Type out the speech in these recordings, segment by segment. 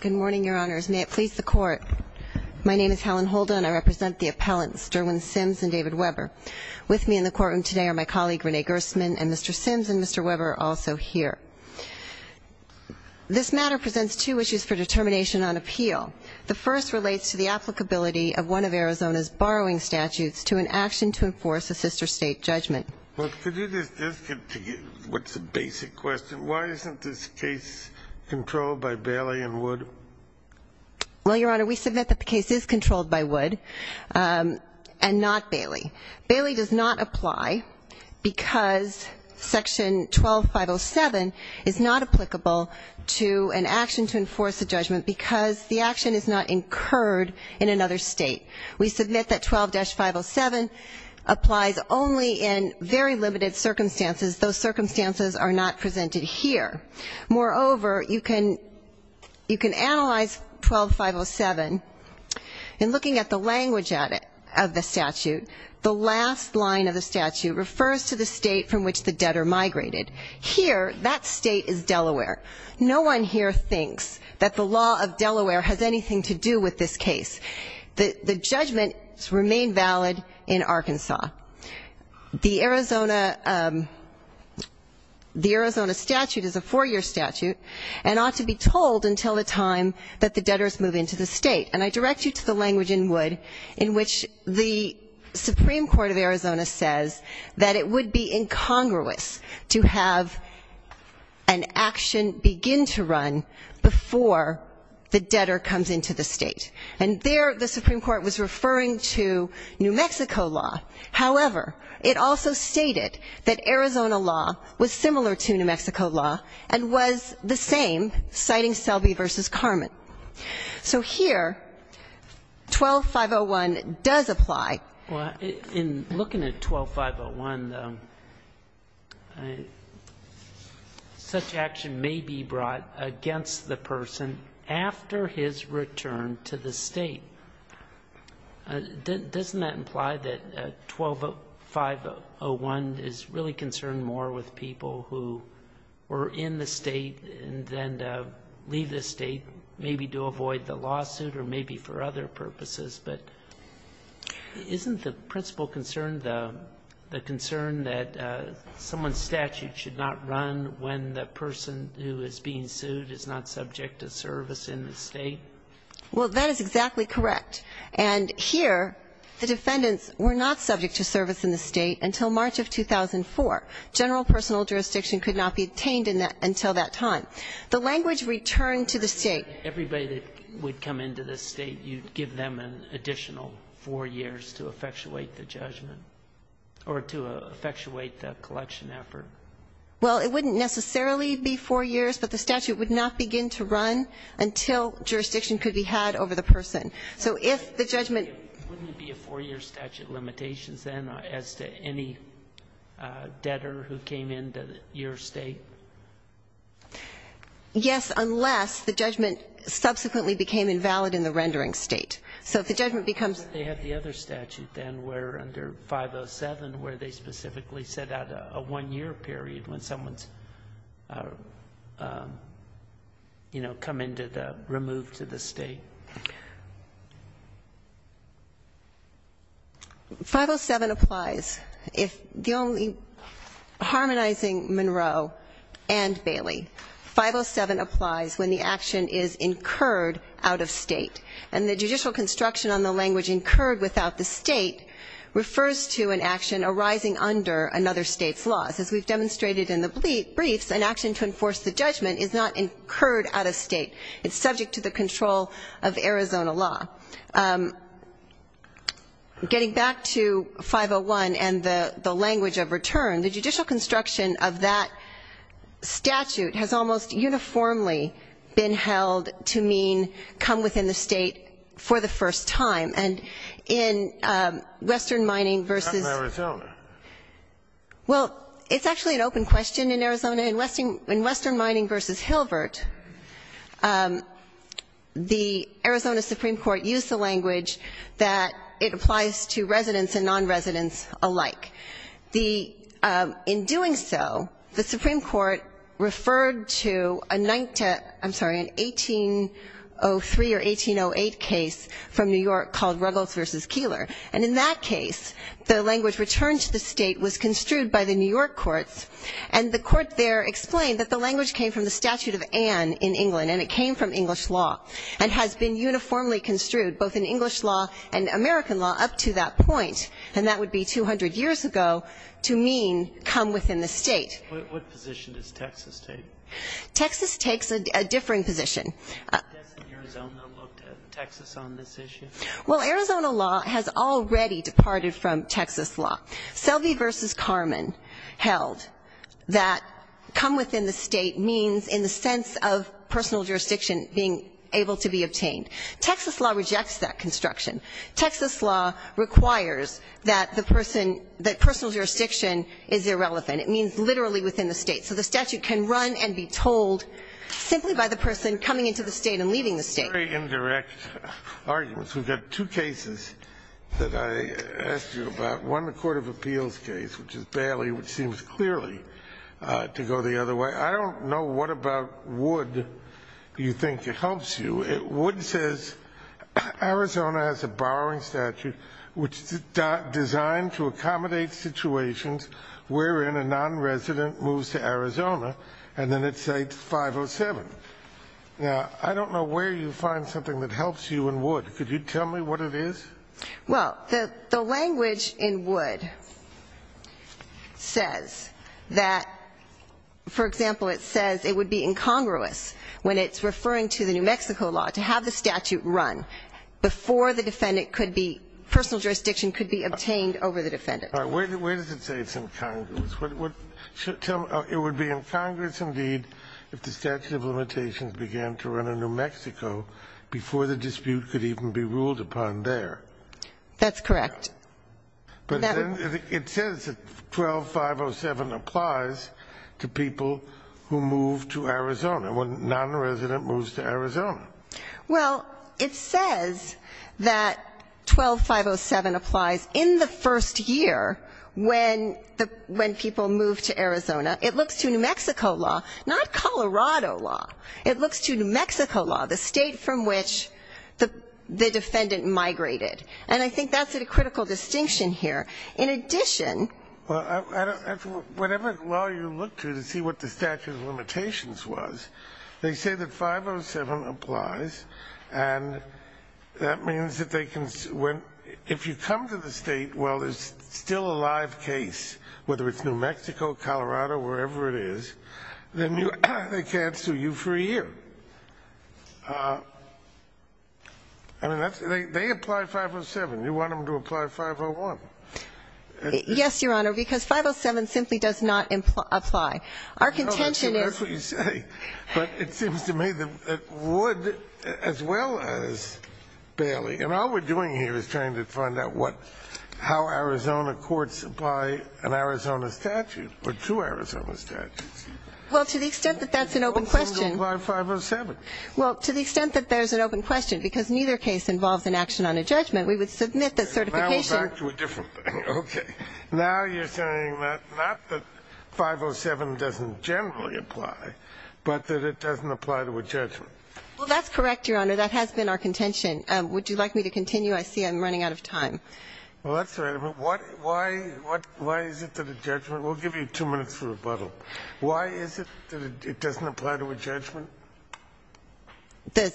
Good morning, Your Honors. May it please the Court, my name is Helen Holden and I represent the appellants, Derwin Sims and David Weber. With me in the courtroom today are my colleague, Renee Gerstmann, and Mr. Sims and Mr. Weber are also here. This matter presents two issues for determination on appeal. The first relates to the applicability of one of Arizona's borrowing statutes to an action to enforce a sister state judgment. What's the basic question? Why isn't this case controlled by Bailey and Wood? Well, Your Honor, we submit that the case is controlled by Wood and not Bailey. Bailey does not apply because Section 12-507 is not applicable to an action to enforce a judgment because the action is not incurred in another state. We submit that 12-507 applies only in very limited circumstances. Those circumstances are not presented here. Moreover, you can analyze 12-507 in looking at the language of the statute. The last line of the statute refers to the state from which the debtor migrated. Here, that state is Delaware. No one here thinks that the law of Delaware has anything to do with this case. The judgments remain valid in Arkansas. The Arizona statute is a four-year statute and ought to be told until the time that the debtors move into the state. And I direct you to the language in Wood in which the Supreme Court of Arizona says that it would be incongruous to have an action begin to run before the debtor comes into the state. And there, the Supreme Court was referring to New Mexico law. However, it also stated that Arizona law was similar to New Mexico law and was the same, citing Selby v. Carman. So here, 12-501 does apply. Well, in looking at 12-501, such action may be brought against the person after his return to the state. Doesn't that imply that 12-501 is really concerned more with people who were in the state than to leave the state, maybe to avoid the lawsuit or maybe for other purposes? But isn't the principal concern the concern that someone's statute should not run when the person who is being sued is not subject to service in the state? Well, that is exactly correct. And here, the defendants were not subject to service in the state until March of 2004. General personal jurisdiction could not be obtained until that time. The language returned to the state. Everybody that would come into the state, you'd give them an additional 4 years to effectuate the judgment or to effectuate the collection effort? Well, it wouldn't necessarily be 4 years, but the statute would not begin to run until jurisdiction could be had over the person. So if the judgment ---- Wouldn't it be a 4-year statute limitation then as to any debtor who came into your state? Yes, unless the judgment subsequently became invalid in the rendering state. So if the judgment becomes ---- They have the other statute then where under 507 where they specifically set out a 1-year period when someone's, you know, come into the ---- removed to the state. 507 applies if the only ---- harmonizing Monroe and Bailey. 507 applies when the action is incurred out of state. And the judicial construction on the language incurred without the state refers to an action arising under another state's laws. As we've demonstrated in the briefs, an action to enforce the judgment is not incurred out of state. It's subject to the control of Arizona law. Getting back to 501 and the language of return, the judicial construction of that statute has almost uniformly been held to mean come within the state for the first time. And in Western Mining versus ---- Not in Arizona. Well, it's actually an open question in Arizona. In Western Mining versus Hilbert, the Arizona Supreme Court used the language that it applies to residents and non-residents alike. In doing so, the Supreme Court referred to a 19th ---- I'm sorry, an 1803 or 1808 case from New York called Ruggles versus Keillor. And in that case, the language returned to the state was construed by the New York courts. And the court there explained that the language came from the Statute of Anne in England and it came from English law and has been uniformly construed both in English law and American law up to that point. And that would be 200 years ago to mean come within the state. What position does Texas take? Texas takes a differing position. Doesn't Arizona look to Texas on this issue? Well, Arizona law has already departed from Texas law. Selby versus Carman held that come within the state means in the sense of personal jurisdiction being able to be obtained. Texas law rejects that construction. Texas law requires that the person ---- that personal jurisdiction is irrelevant. It means literally within the state. So the statute can run and be told simply by the person coming into the state and leaving the state. Very indirect arguments. We've got two cases that I asked you about. One, the Court of Appeals case, which is Bailey, which seems clearly to go the other way. I don't know what about Wood you think helps you. Wood says Arizona has a borrowing statute which is designed to accommodate situations wherein a nonresident moves to Arizona. And then it states 507. Now, I don't know where you find something that helps you in Wood. Could you tell me what it is? Well, the language in Wood says that, for example, it says it would be incongruous when it's referring to the New Mexico law to have the statute run before the defendant could be ---- personal jurisdiction could be obtained over the defendant. Where does it say it's incongruous? Tell me. It would be incongruous indeed if the statute of limitations began to run in New Mexico before the dispute could even be ruled upon there. That's correct. But then it says that 12507 applies to people who move to Arizona, when a nonresident moves to Arizona. Well, it says that 12507 applies in the first year when people move to Arizona. It looks to New Mexico law, not Colorado law. It looks to New Mexico law, the state from which the defendant migrated. And I think that's a critical distinction here. In addition ---- Well, I don't ---- whatever law you look to to see what the statute of limitations was, they say that 507 applies, and that means that they can ---- if you come to the State, well, there's still a live case, whether it's New Mexico, Colorado, wherever it is, then they can't sue you for a year. I mean, that's ---- they apply 507. You want them to apply 501. Yes, Your Honor, because 507 simply does not apply. Our contention is ---- That's what you say. But it seems to me that it would as well as barely. And all we're doing here is trying to find out what ---- how Arizona courts apply an Arizona statute or two Arizona statutes. Well, to the extent that that's an open question ---- Why doesn't it apply 507? Well, to the extent that there's an open question, because neither case involves an action on a judgment, we would submit that certification ---- Let's go back to a different thing. Okay. Now you're saying that not that 507 doesn't generally apply, but that it doesn't apply to a judgment. Well, that's correct, Your Honor. That has been our contention. Would you like me to continue? I see I'm running out of time. Well, that's all right. But why is it that a judgment ---- we'll give you two minutes for rebuttal. Why is it that it doesn't apply to a judgment?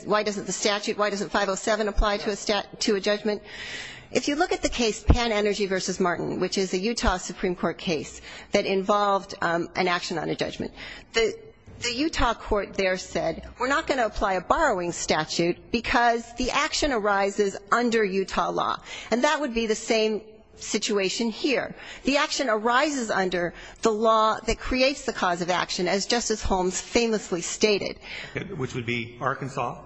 Why doesn't the statute, why doesn't 507 apply to a judgment? If you look at the case Pan Energy v. Martin, which is a Utah Supreme Court case that involved an action on a judgment, the Utah court there said we're not going to apply a borrowing statute because the action arises under Utah law. And that would be the same situation here. The action arises under the law that creates the cause of action, as Justice Holmes famously stated. Which would be Arkansas?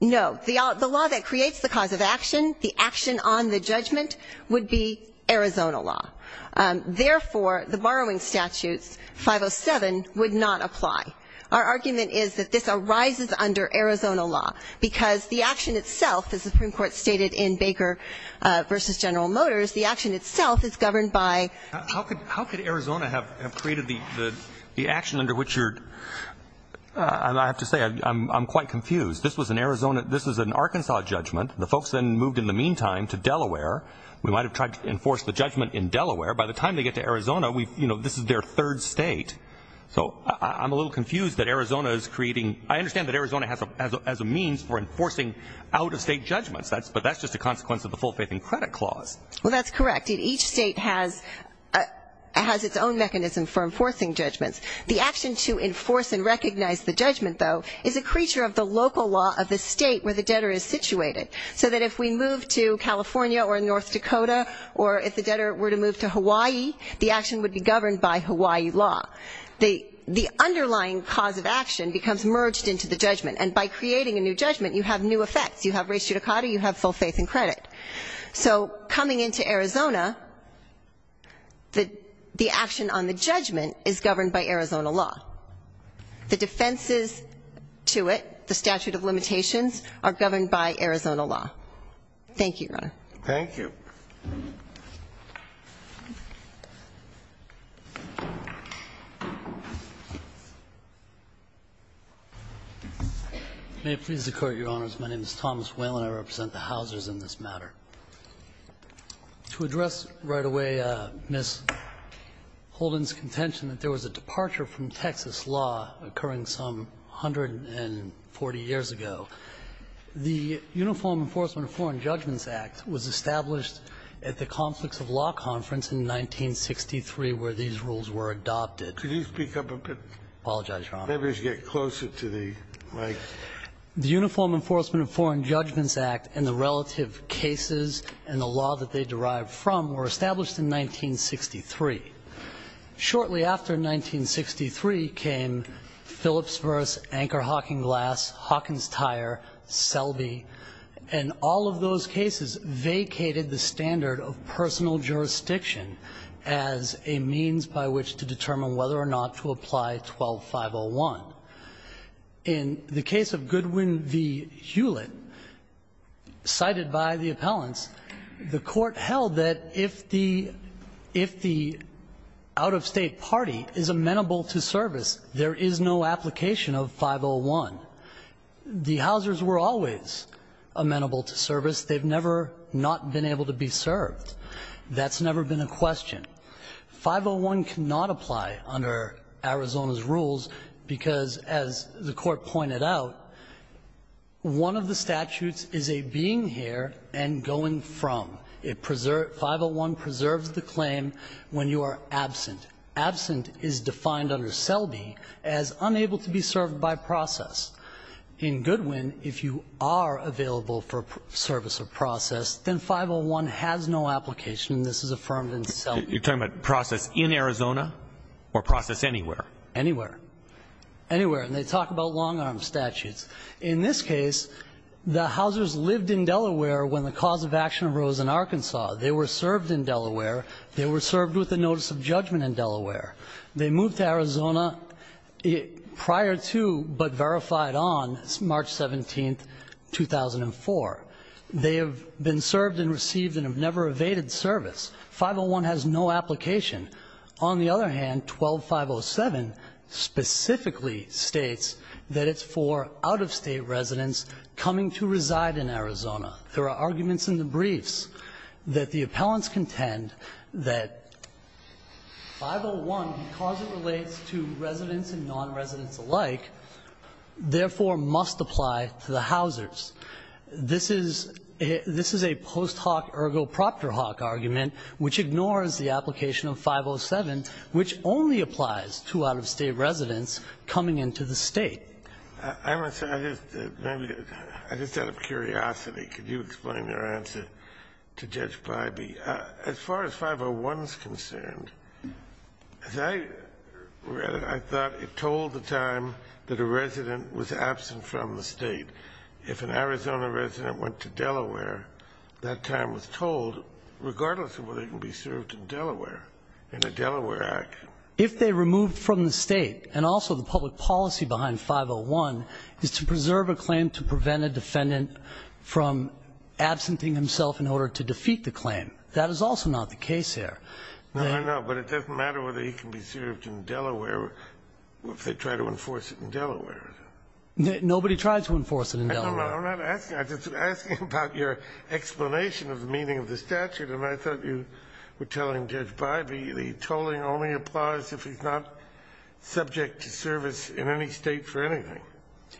No. The law that creates the cause of action, the action on the judgment, would be Arizona law. Therefore, the borrowing statute, 507, would not apply. Our argument is that this arises under Arizona law because the action itself, as the Supreme Court stated in Baker v. General Motors, the action itself is governed by ---- How could Arizona have created the action under which you're ---- I have to say, I'm quite confused. This is an Arkansas judgment. The folks then moved in the meantime to Delaware. We might have tried to enforce the judgment in Delaware. By the time they get to Arizona, this is their third state. So I'm a little confused that Arizona is creating ---- I understand that Arizona has a means for enforcing out-of-state judgments, but that's just a consequence of the full faith in credit clause. Well, that's correct. Each state has its own mechanism for enforcing judgments. The action to enforce and recognize the judgment, though, is a creature of the local law of the state where the debtor is situated. So that if we move to California or North Dakota or if the debtor were to move to Hawaii, the action would be governed by Hawaii law. The underlying cause of action becomes merged into the judgment, and by creating a new judgment, you have new effects. You have res judicata, you have full faith in credit. So coming into Arizona, the action on the judgment is governed by Arizona law. The defenses to it, the statute of limitations, are governed by Arizona law. Thank you, Your Honor. Thank you. May it please the Court, Your Honors. My name is Thomas Whalen. I represent the housers in this matter. To address right away Ms. Holden's contention that there was a departure from Texas law occurring some 140 years ago, the Uniform Enforcement of Foreign Judgments Act was established at the Conflicts of Law Conference in 1963, where these rules were adopted. Could you speak up a bit? I apologize, Your Honor. Maybe you should get closer to the mic. The Uniform Enforcement of Foreign Judgments Act and the relative cases and the law that they derived from were established in 1963. Shortly after 1963 came Phillips v. Anchor-Hawking Glass, Hawkins-Tyre, Selby, and all of those cases vacated the standard of personal jurisdiction as a means by which to determine whether or not to apply 12501. In the case of Goodwin v. Hewlett, cited by the appellants, the Court held that if the out-of-state party is amenable to service, there is no application of 501. The housers were always amenable to service. They've never not been able to be served. That's never been a question. 501 cannot apply under Arizona's rules because, as the Court pointed out, one of the statutes is a being here and going from. 501 preserves the claim when you are absent. Absent is defined under Selby as unable to be served by process. In Goodwin, if you are available for service or process, then 501 has no application, and this is affirmed in Selby. You're talking about process in Arizona or process anywhere? Anywhere. Anywhere. And they talk about long-arm statutes. In this case, the housers lived in Delaware when the cause of action arose in Arkansas. They were served in Delaware. They were served with the notice of judgment in Delaware. They moved to Arizona prior to but verified on March 17, 2004. They have been served and received and have never evaded service. 501 has no application. On the other hand, 12-507 specifically states that it's for out-of-state residents coming to reside in Arizona. There are arguments in the briefs that the appellants contend that 501, because it relates to residents and non-residents alike, therefore must apply to the housers. This is a post hoc ergo proctor hoc argument which ignores the application of 507, which only applies to out-of-state residents coming into the State. I just out of curiosity, could you explain your answer to Judge Blybee? As far as 501 is concerned, as I read it, I thought it told the time that a resident was absent from the State. If an Arizona resident went to Delaware, that time was told regardless of whether they can be served in Delaware in the Delaware Act. If they removed from the State and also the public policy behind 501 is to preserve a claim to prevent a defendant from absenting himself in order to defeat the claim. That is also not the case here. No, no, no, but it doesn't matter whether he can be served in Delaware if they try to enforce it in Delaware. Nobody tried to enforce it in Delaware. I'm not asking. I'm just asking about your explanation of the meaning of the statute. And I thought you were telling Judge Blybee the tolling only applies if he's not subject to service in any State for anything.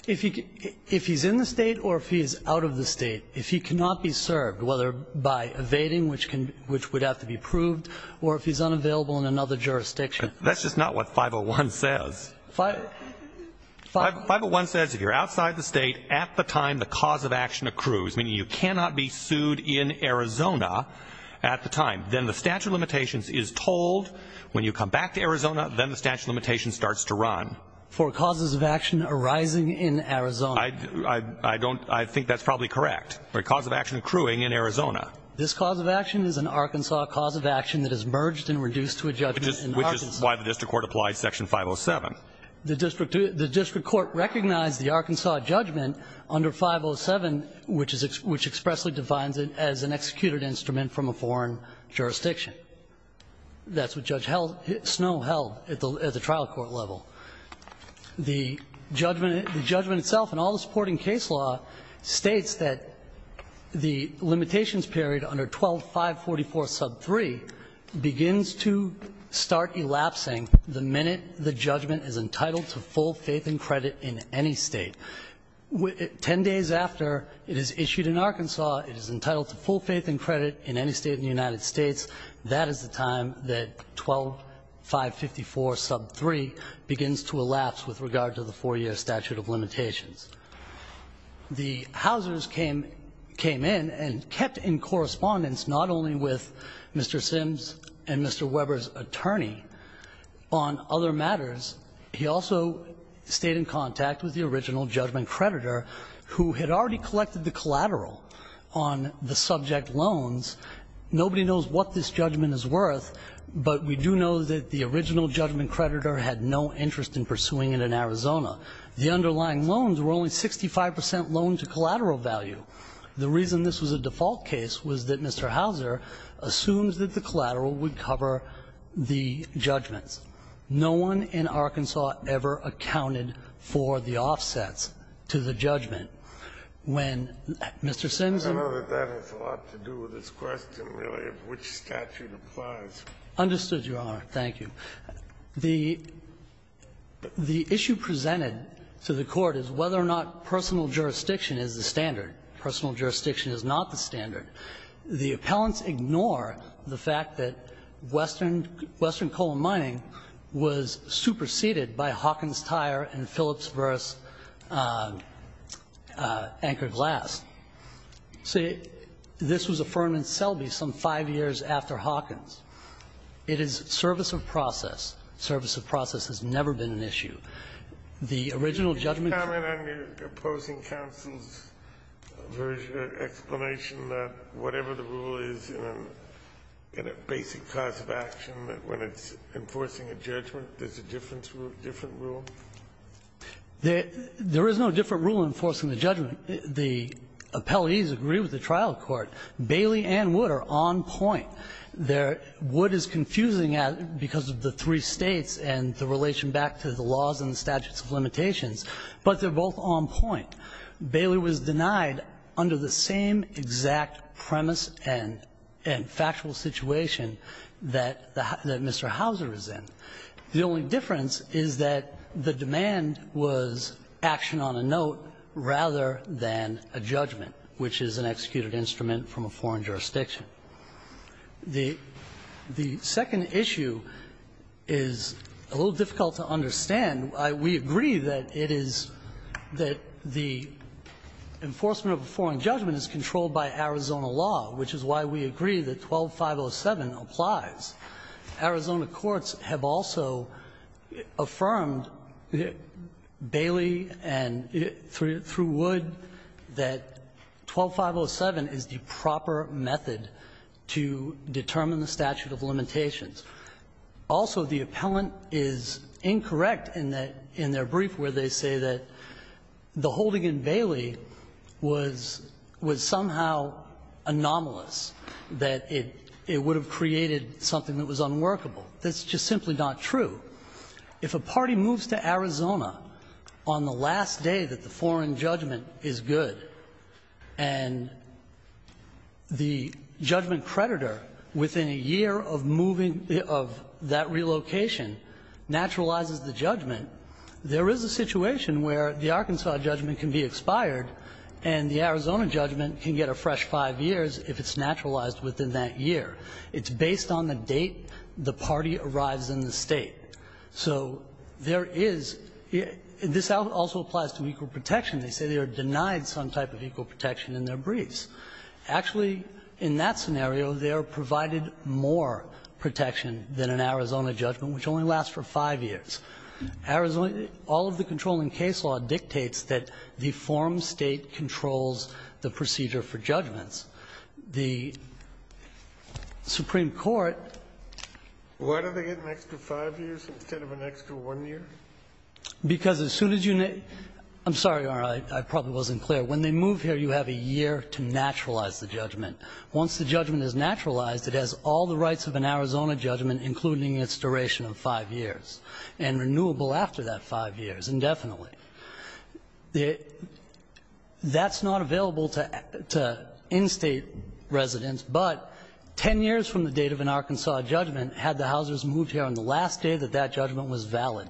If he's in the State or if he's out of the State, if he cannot be served, whether by evading, which would have to be proved, or if he's unavailable in another jurisdiction. That's just not what 501 says. 501 says if you're outside the State at the time the cause of action accrues, meaning you cannot be sued in Arizona at the time, then the statute of limitations is tolled. When you come back to Arizona, then the statute of limitations starts to run. For causes of action arising in Arizona. I don't – I think that's probably correct. For a cause of action accruing in Arizona. This cause of action is an Arkansas cause of action that is merged and reduced to a judgment in Arkansas. Which is why the district court applied Section 507. The district court recognized the Arkansas judgment under 507, which expressly defines it as an executed instrument from a foreign jurisdiction. That's what Judge Snow held at the trial court level. The judgment itself and all the supporting case law states that the limitations period under 12-544-sub-3 begins to start elapsing the minute the judgment is applied. It is entitled to full faith and credit in any State. Ten days after it is issued in Arkansas, it is entitled to full faith and credit in any State in the United States. That is the time that 12-554-sub-3 begins to elapse with regard to the four-year statute of limitations. The Haussers came in and kept in correspondence not only with Mr. Sims and Mr. Hausser, he also stayed in contact with the original judgment creditor who had already collected the collateral on the subject loans. Nobody knows what this judgment is worth, but we do know that the original judgment creditor had no interest in pursuing it in Arizona. The underlying loans were only 65 percent loan to collateral value. The reason this was a default case was that Mr. Hausser assumed that the collateral would cover the judgments. No one in Arkansas ever accounted for the offsets to the judgment. When Mr. Sims and Mr. Hausser. I know that has a lot to do with this question, really, of which statute applies. Understood, Your Honor. Thank you. The issue presented to the Court is whether or not personal jurisdiction is the standard. Personal jurisdiction is not the standard. The appellants ignore the fact that Western Coal Mining was superseded by Hawkins Tire and Phillips v. Anchor Glass. See, this was a firm in Selby some five years after Hawkins. It is service of process. Service of process has never been an issue. The original judgment. Can you comment on your opposing counsel's explanation that whatever the rule is in a basic class of action, that when it's enforcing a judgment, there's a different rule? There is no different rule in enforcing the judgment. The appellees agree with the trial court. Bailey and Wood are on point. Wood is confusing because of the three States and the relation back to the laws and But they're both on point. Bailey was denied under the same exact premise and factual situation that Mr. Hauser is in. The only difference is that the demand was action on a note rather than a judgment, which is an executed instrument from a foreign jurisdiction. The second issue is a little difficult to understand. We agree that it is that the enforcement of a foreign judgment is controlled by Arizona law, which is why we agree that 12507 applies. Arizona courts have also affirmed, Bailey and through Wood, that 12507 is the proper Also, the appellant is incorrect in their brief where they say that the holding in Bailey was somehow anomalous, that it would have created something that was unworkable. That's just simply not true. If a party moves to Arizona on the last day that the foreign judgment is good and the judgment creditor within a year of moving, of that relocation naturalizes the judgment, there is a situation where the Arkansas judgment can be expired and the Arizona judgment can get a fresh 5 years if it's naturalized within that year. It's based on the date the party arrives in the State. So there is, this also applies to equal protection. They say they are denied some type of equal protection in their briefs. Actually, in that scenario, they are provided more protection than an Arizona judgment, which only lasts for 5 years. Arizona, all of the controlling case law dictates that the form State controls the procedure for judgments. The Supreme Court Why do they get an extra 5 years instead of an extra 1 year? Because as soon as you I'm sorry, Your Honor, I probably wasn't clear. When they move here, you have a year to naturalize the judgment. Once the judgment is naturalized, it has all the rights of an Arizona judgment, including its duration of 5 years, and renewable after that 5 years indefinitely. That's not available to in-State residents, but 10 years from the date of an Arkansas judgment, had the housers moved here on the last day that that judgment was valid,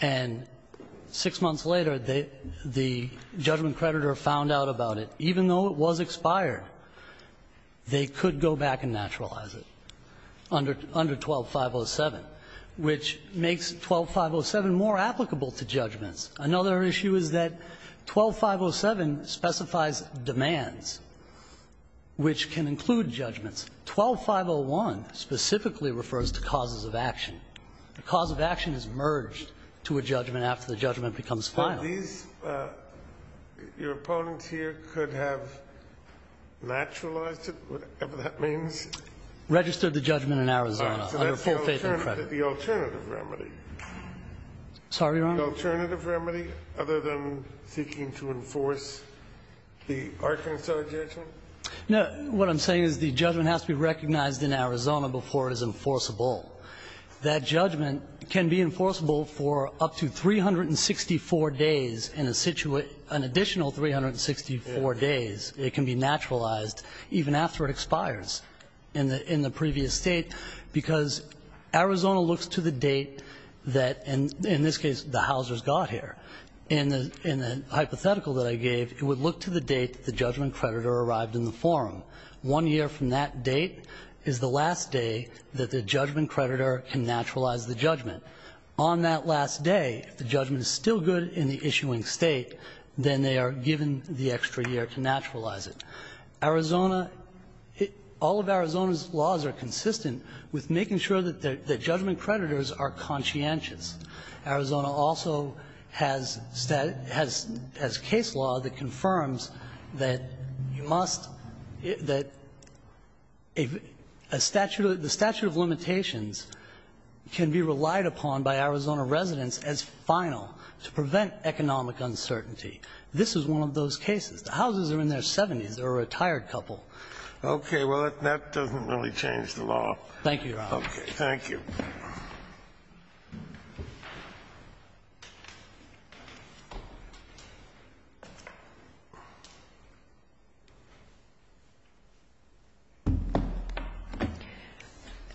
and 6 months later, the judgment creditor found out about it. Even though it was expired, they could go back and naturalize it under 12507, which makes 12507 more applicable to judgments. Another issue is that 12507 specifies demands which can include judgments. 12501 specifically refers to causes of action. The cause of action is merged to a judgment after the judgment becomes final. These Your opponents here could have naturalized it, whatever that means? Registered the judgment in Arizona under full faith and credit. So that's the alternative remedy. Sorry, Your Honor? The alternative remedy, other than seeking to enforce the Arkansas judgment? No. What I'm saying is the judgment has to be recognized in Arizona before it is enforceable. That judgment can be enforceable for up to 364 days in a situation, an additional 364 days. It can be naturalized even after it expires in the previous State, because Arizona looks to the date that, in this case, the housers got here. In the hypothetical that I gave, it would look to the date that the judgment creditor arrived in the forum. One year from that date is the last day that the judgment creditor can naturalize the judgment. On that last day, if the judgment is still good in the issuing State, then they are given the extra year to naturalize it. Arizona, all of Arizona's laws are consistent with making sure that the judgment creditors are conscientious. Arizona also has case law that confirms that you must, that a statute of limitations can be relied upon by Arizona residents as final to prevent economic uncertainty. This is one of those cases. The houses are in their 70s. They're a retired couple. Okay. Well, that doesn't really change the law. Thank you, Your Honor. Thank you.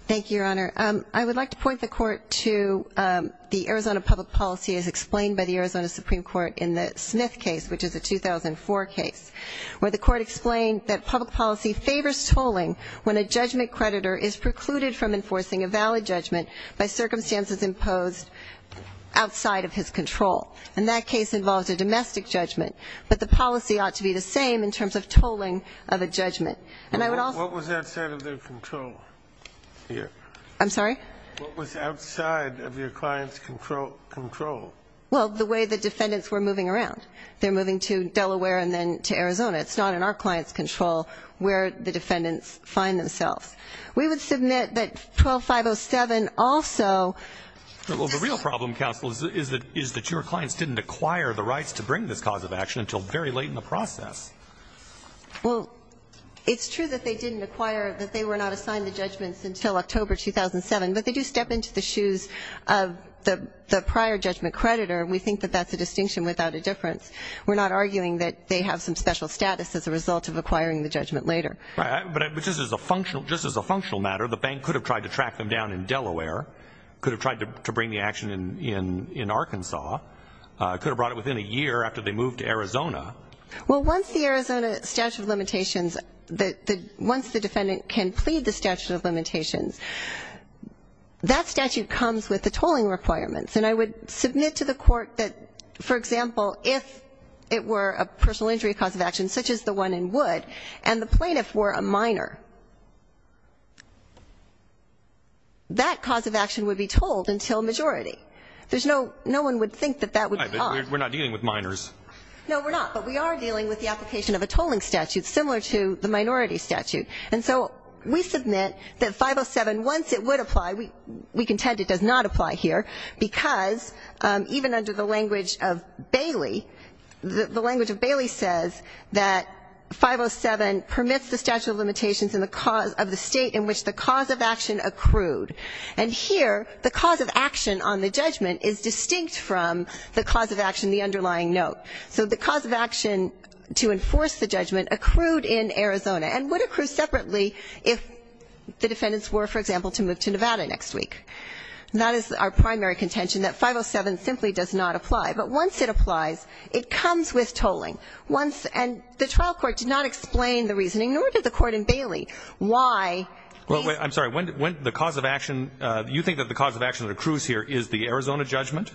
Thank you, Your Honor. I would like to point the Court to the Arizona public policy as explained by the Arizona Supreme Court in the Smith case, which is a 2004 case, where the Court explained that public policy favors tolling when a judgment creditor is precluded from enforcing a valid judgment by circumstances imposed outside of his control. And that case involved a domestic judgment. But the policy ought to be the same in terms of tolling of a judgment. And I would also ---- What was outside of their control here? I'm sorry? What was outside of your client's control? Well, the way the defendants were moving around. They're moving to Delaware and then to Arizona. It's not in our client's control where the defendants find themselves. We would submit that 12507 also ---- Well, the real problem, counsel, is that your clients didn't acquire the rights to bring this cause of action until very late in the process. Well, it's true that they didn't acquire, that they were not assigned the judgments until October 2007. But they do step into the shoes of the prior judgment creditor, and we think that that's a distinction without a difference. We're not arguing that they have some special status as a result of acquiring the judgment later. Right. But just as a functional matter, the bank could have tried to track them down in Delaware, could have tried to bring the action in Arkansas, could have brought it within a year after they moved to Arizona. Well, once the Arizona statute of limitations, once the defendant can plead the statute of limitations, that statute comes with the tolling requirements. And I would submit to the court that, for example, if it were a personal injury cause of action such as the one in Wood and the plaintiff were a minor, that cause of action would be tolled until majority. There's no one would think that that would be caught. We're not dealing with minors. No, we're not. But we are dealing with the application of a tolling statute similar to the minority statute. And so we submit that 507, once it would apply, we contend it does not apply here, because even under the language of Bailey, the language of Bailey says that 507 permits the statute of limitations of the state in which the cause of action accrued. And here the cause of action on the judgment is distinct from the cause of action, the underlying note. So the cause of action to enforce the judgment accrued in Arizona and would accrue separately if the defendants were, for example, to move to Nevada next week. That is our primary contention, that 507 simply does not apply. But once it applies, it comes with tolling. Once the trial court did not explain the reasoning, nor did the court in Bailey, why. I'm sorry. When the cause of action, you think that the cause of action that accrues here is the Arizona judgment?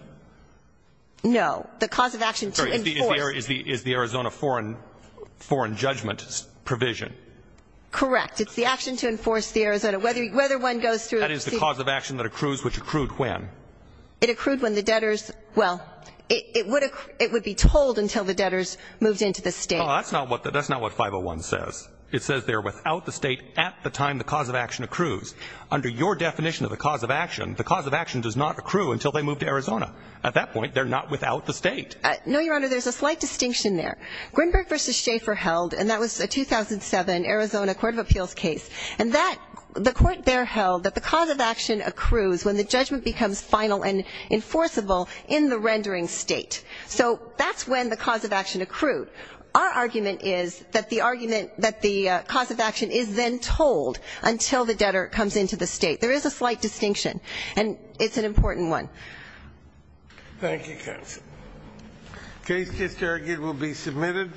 No. The cause of action to enforce. Is the Arizona foreign judgment provision. Correct. It's the action to enforce the Arizona, whether one goes through. That is the cause of action that accrues, which accrued when? It accrued when the debtors, well, it would be told until the debtors moved into the state. That's not what 501 says. It says they're without the state at the time the cause of action accrues. Under your definition of the cause of action, the cause of action does not accrue until they move to Arizona. At that point, they're not without the state. No, Your Honor, there's a slight distinction there. Grinberg v. Schaefer held, and that was a 2007 Arizona court of appeals case. And that, the court there held that the cause of action accrues when the judgment becomes final and enforceable in the rendering state. So that's when the cause of action accrued. Our argument is that the argument that the cause of action is then told until the debtor comes into the state. There is a slight distinction, and it's an important one. Thank you, counsel. The case just argued will be submitted.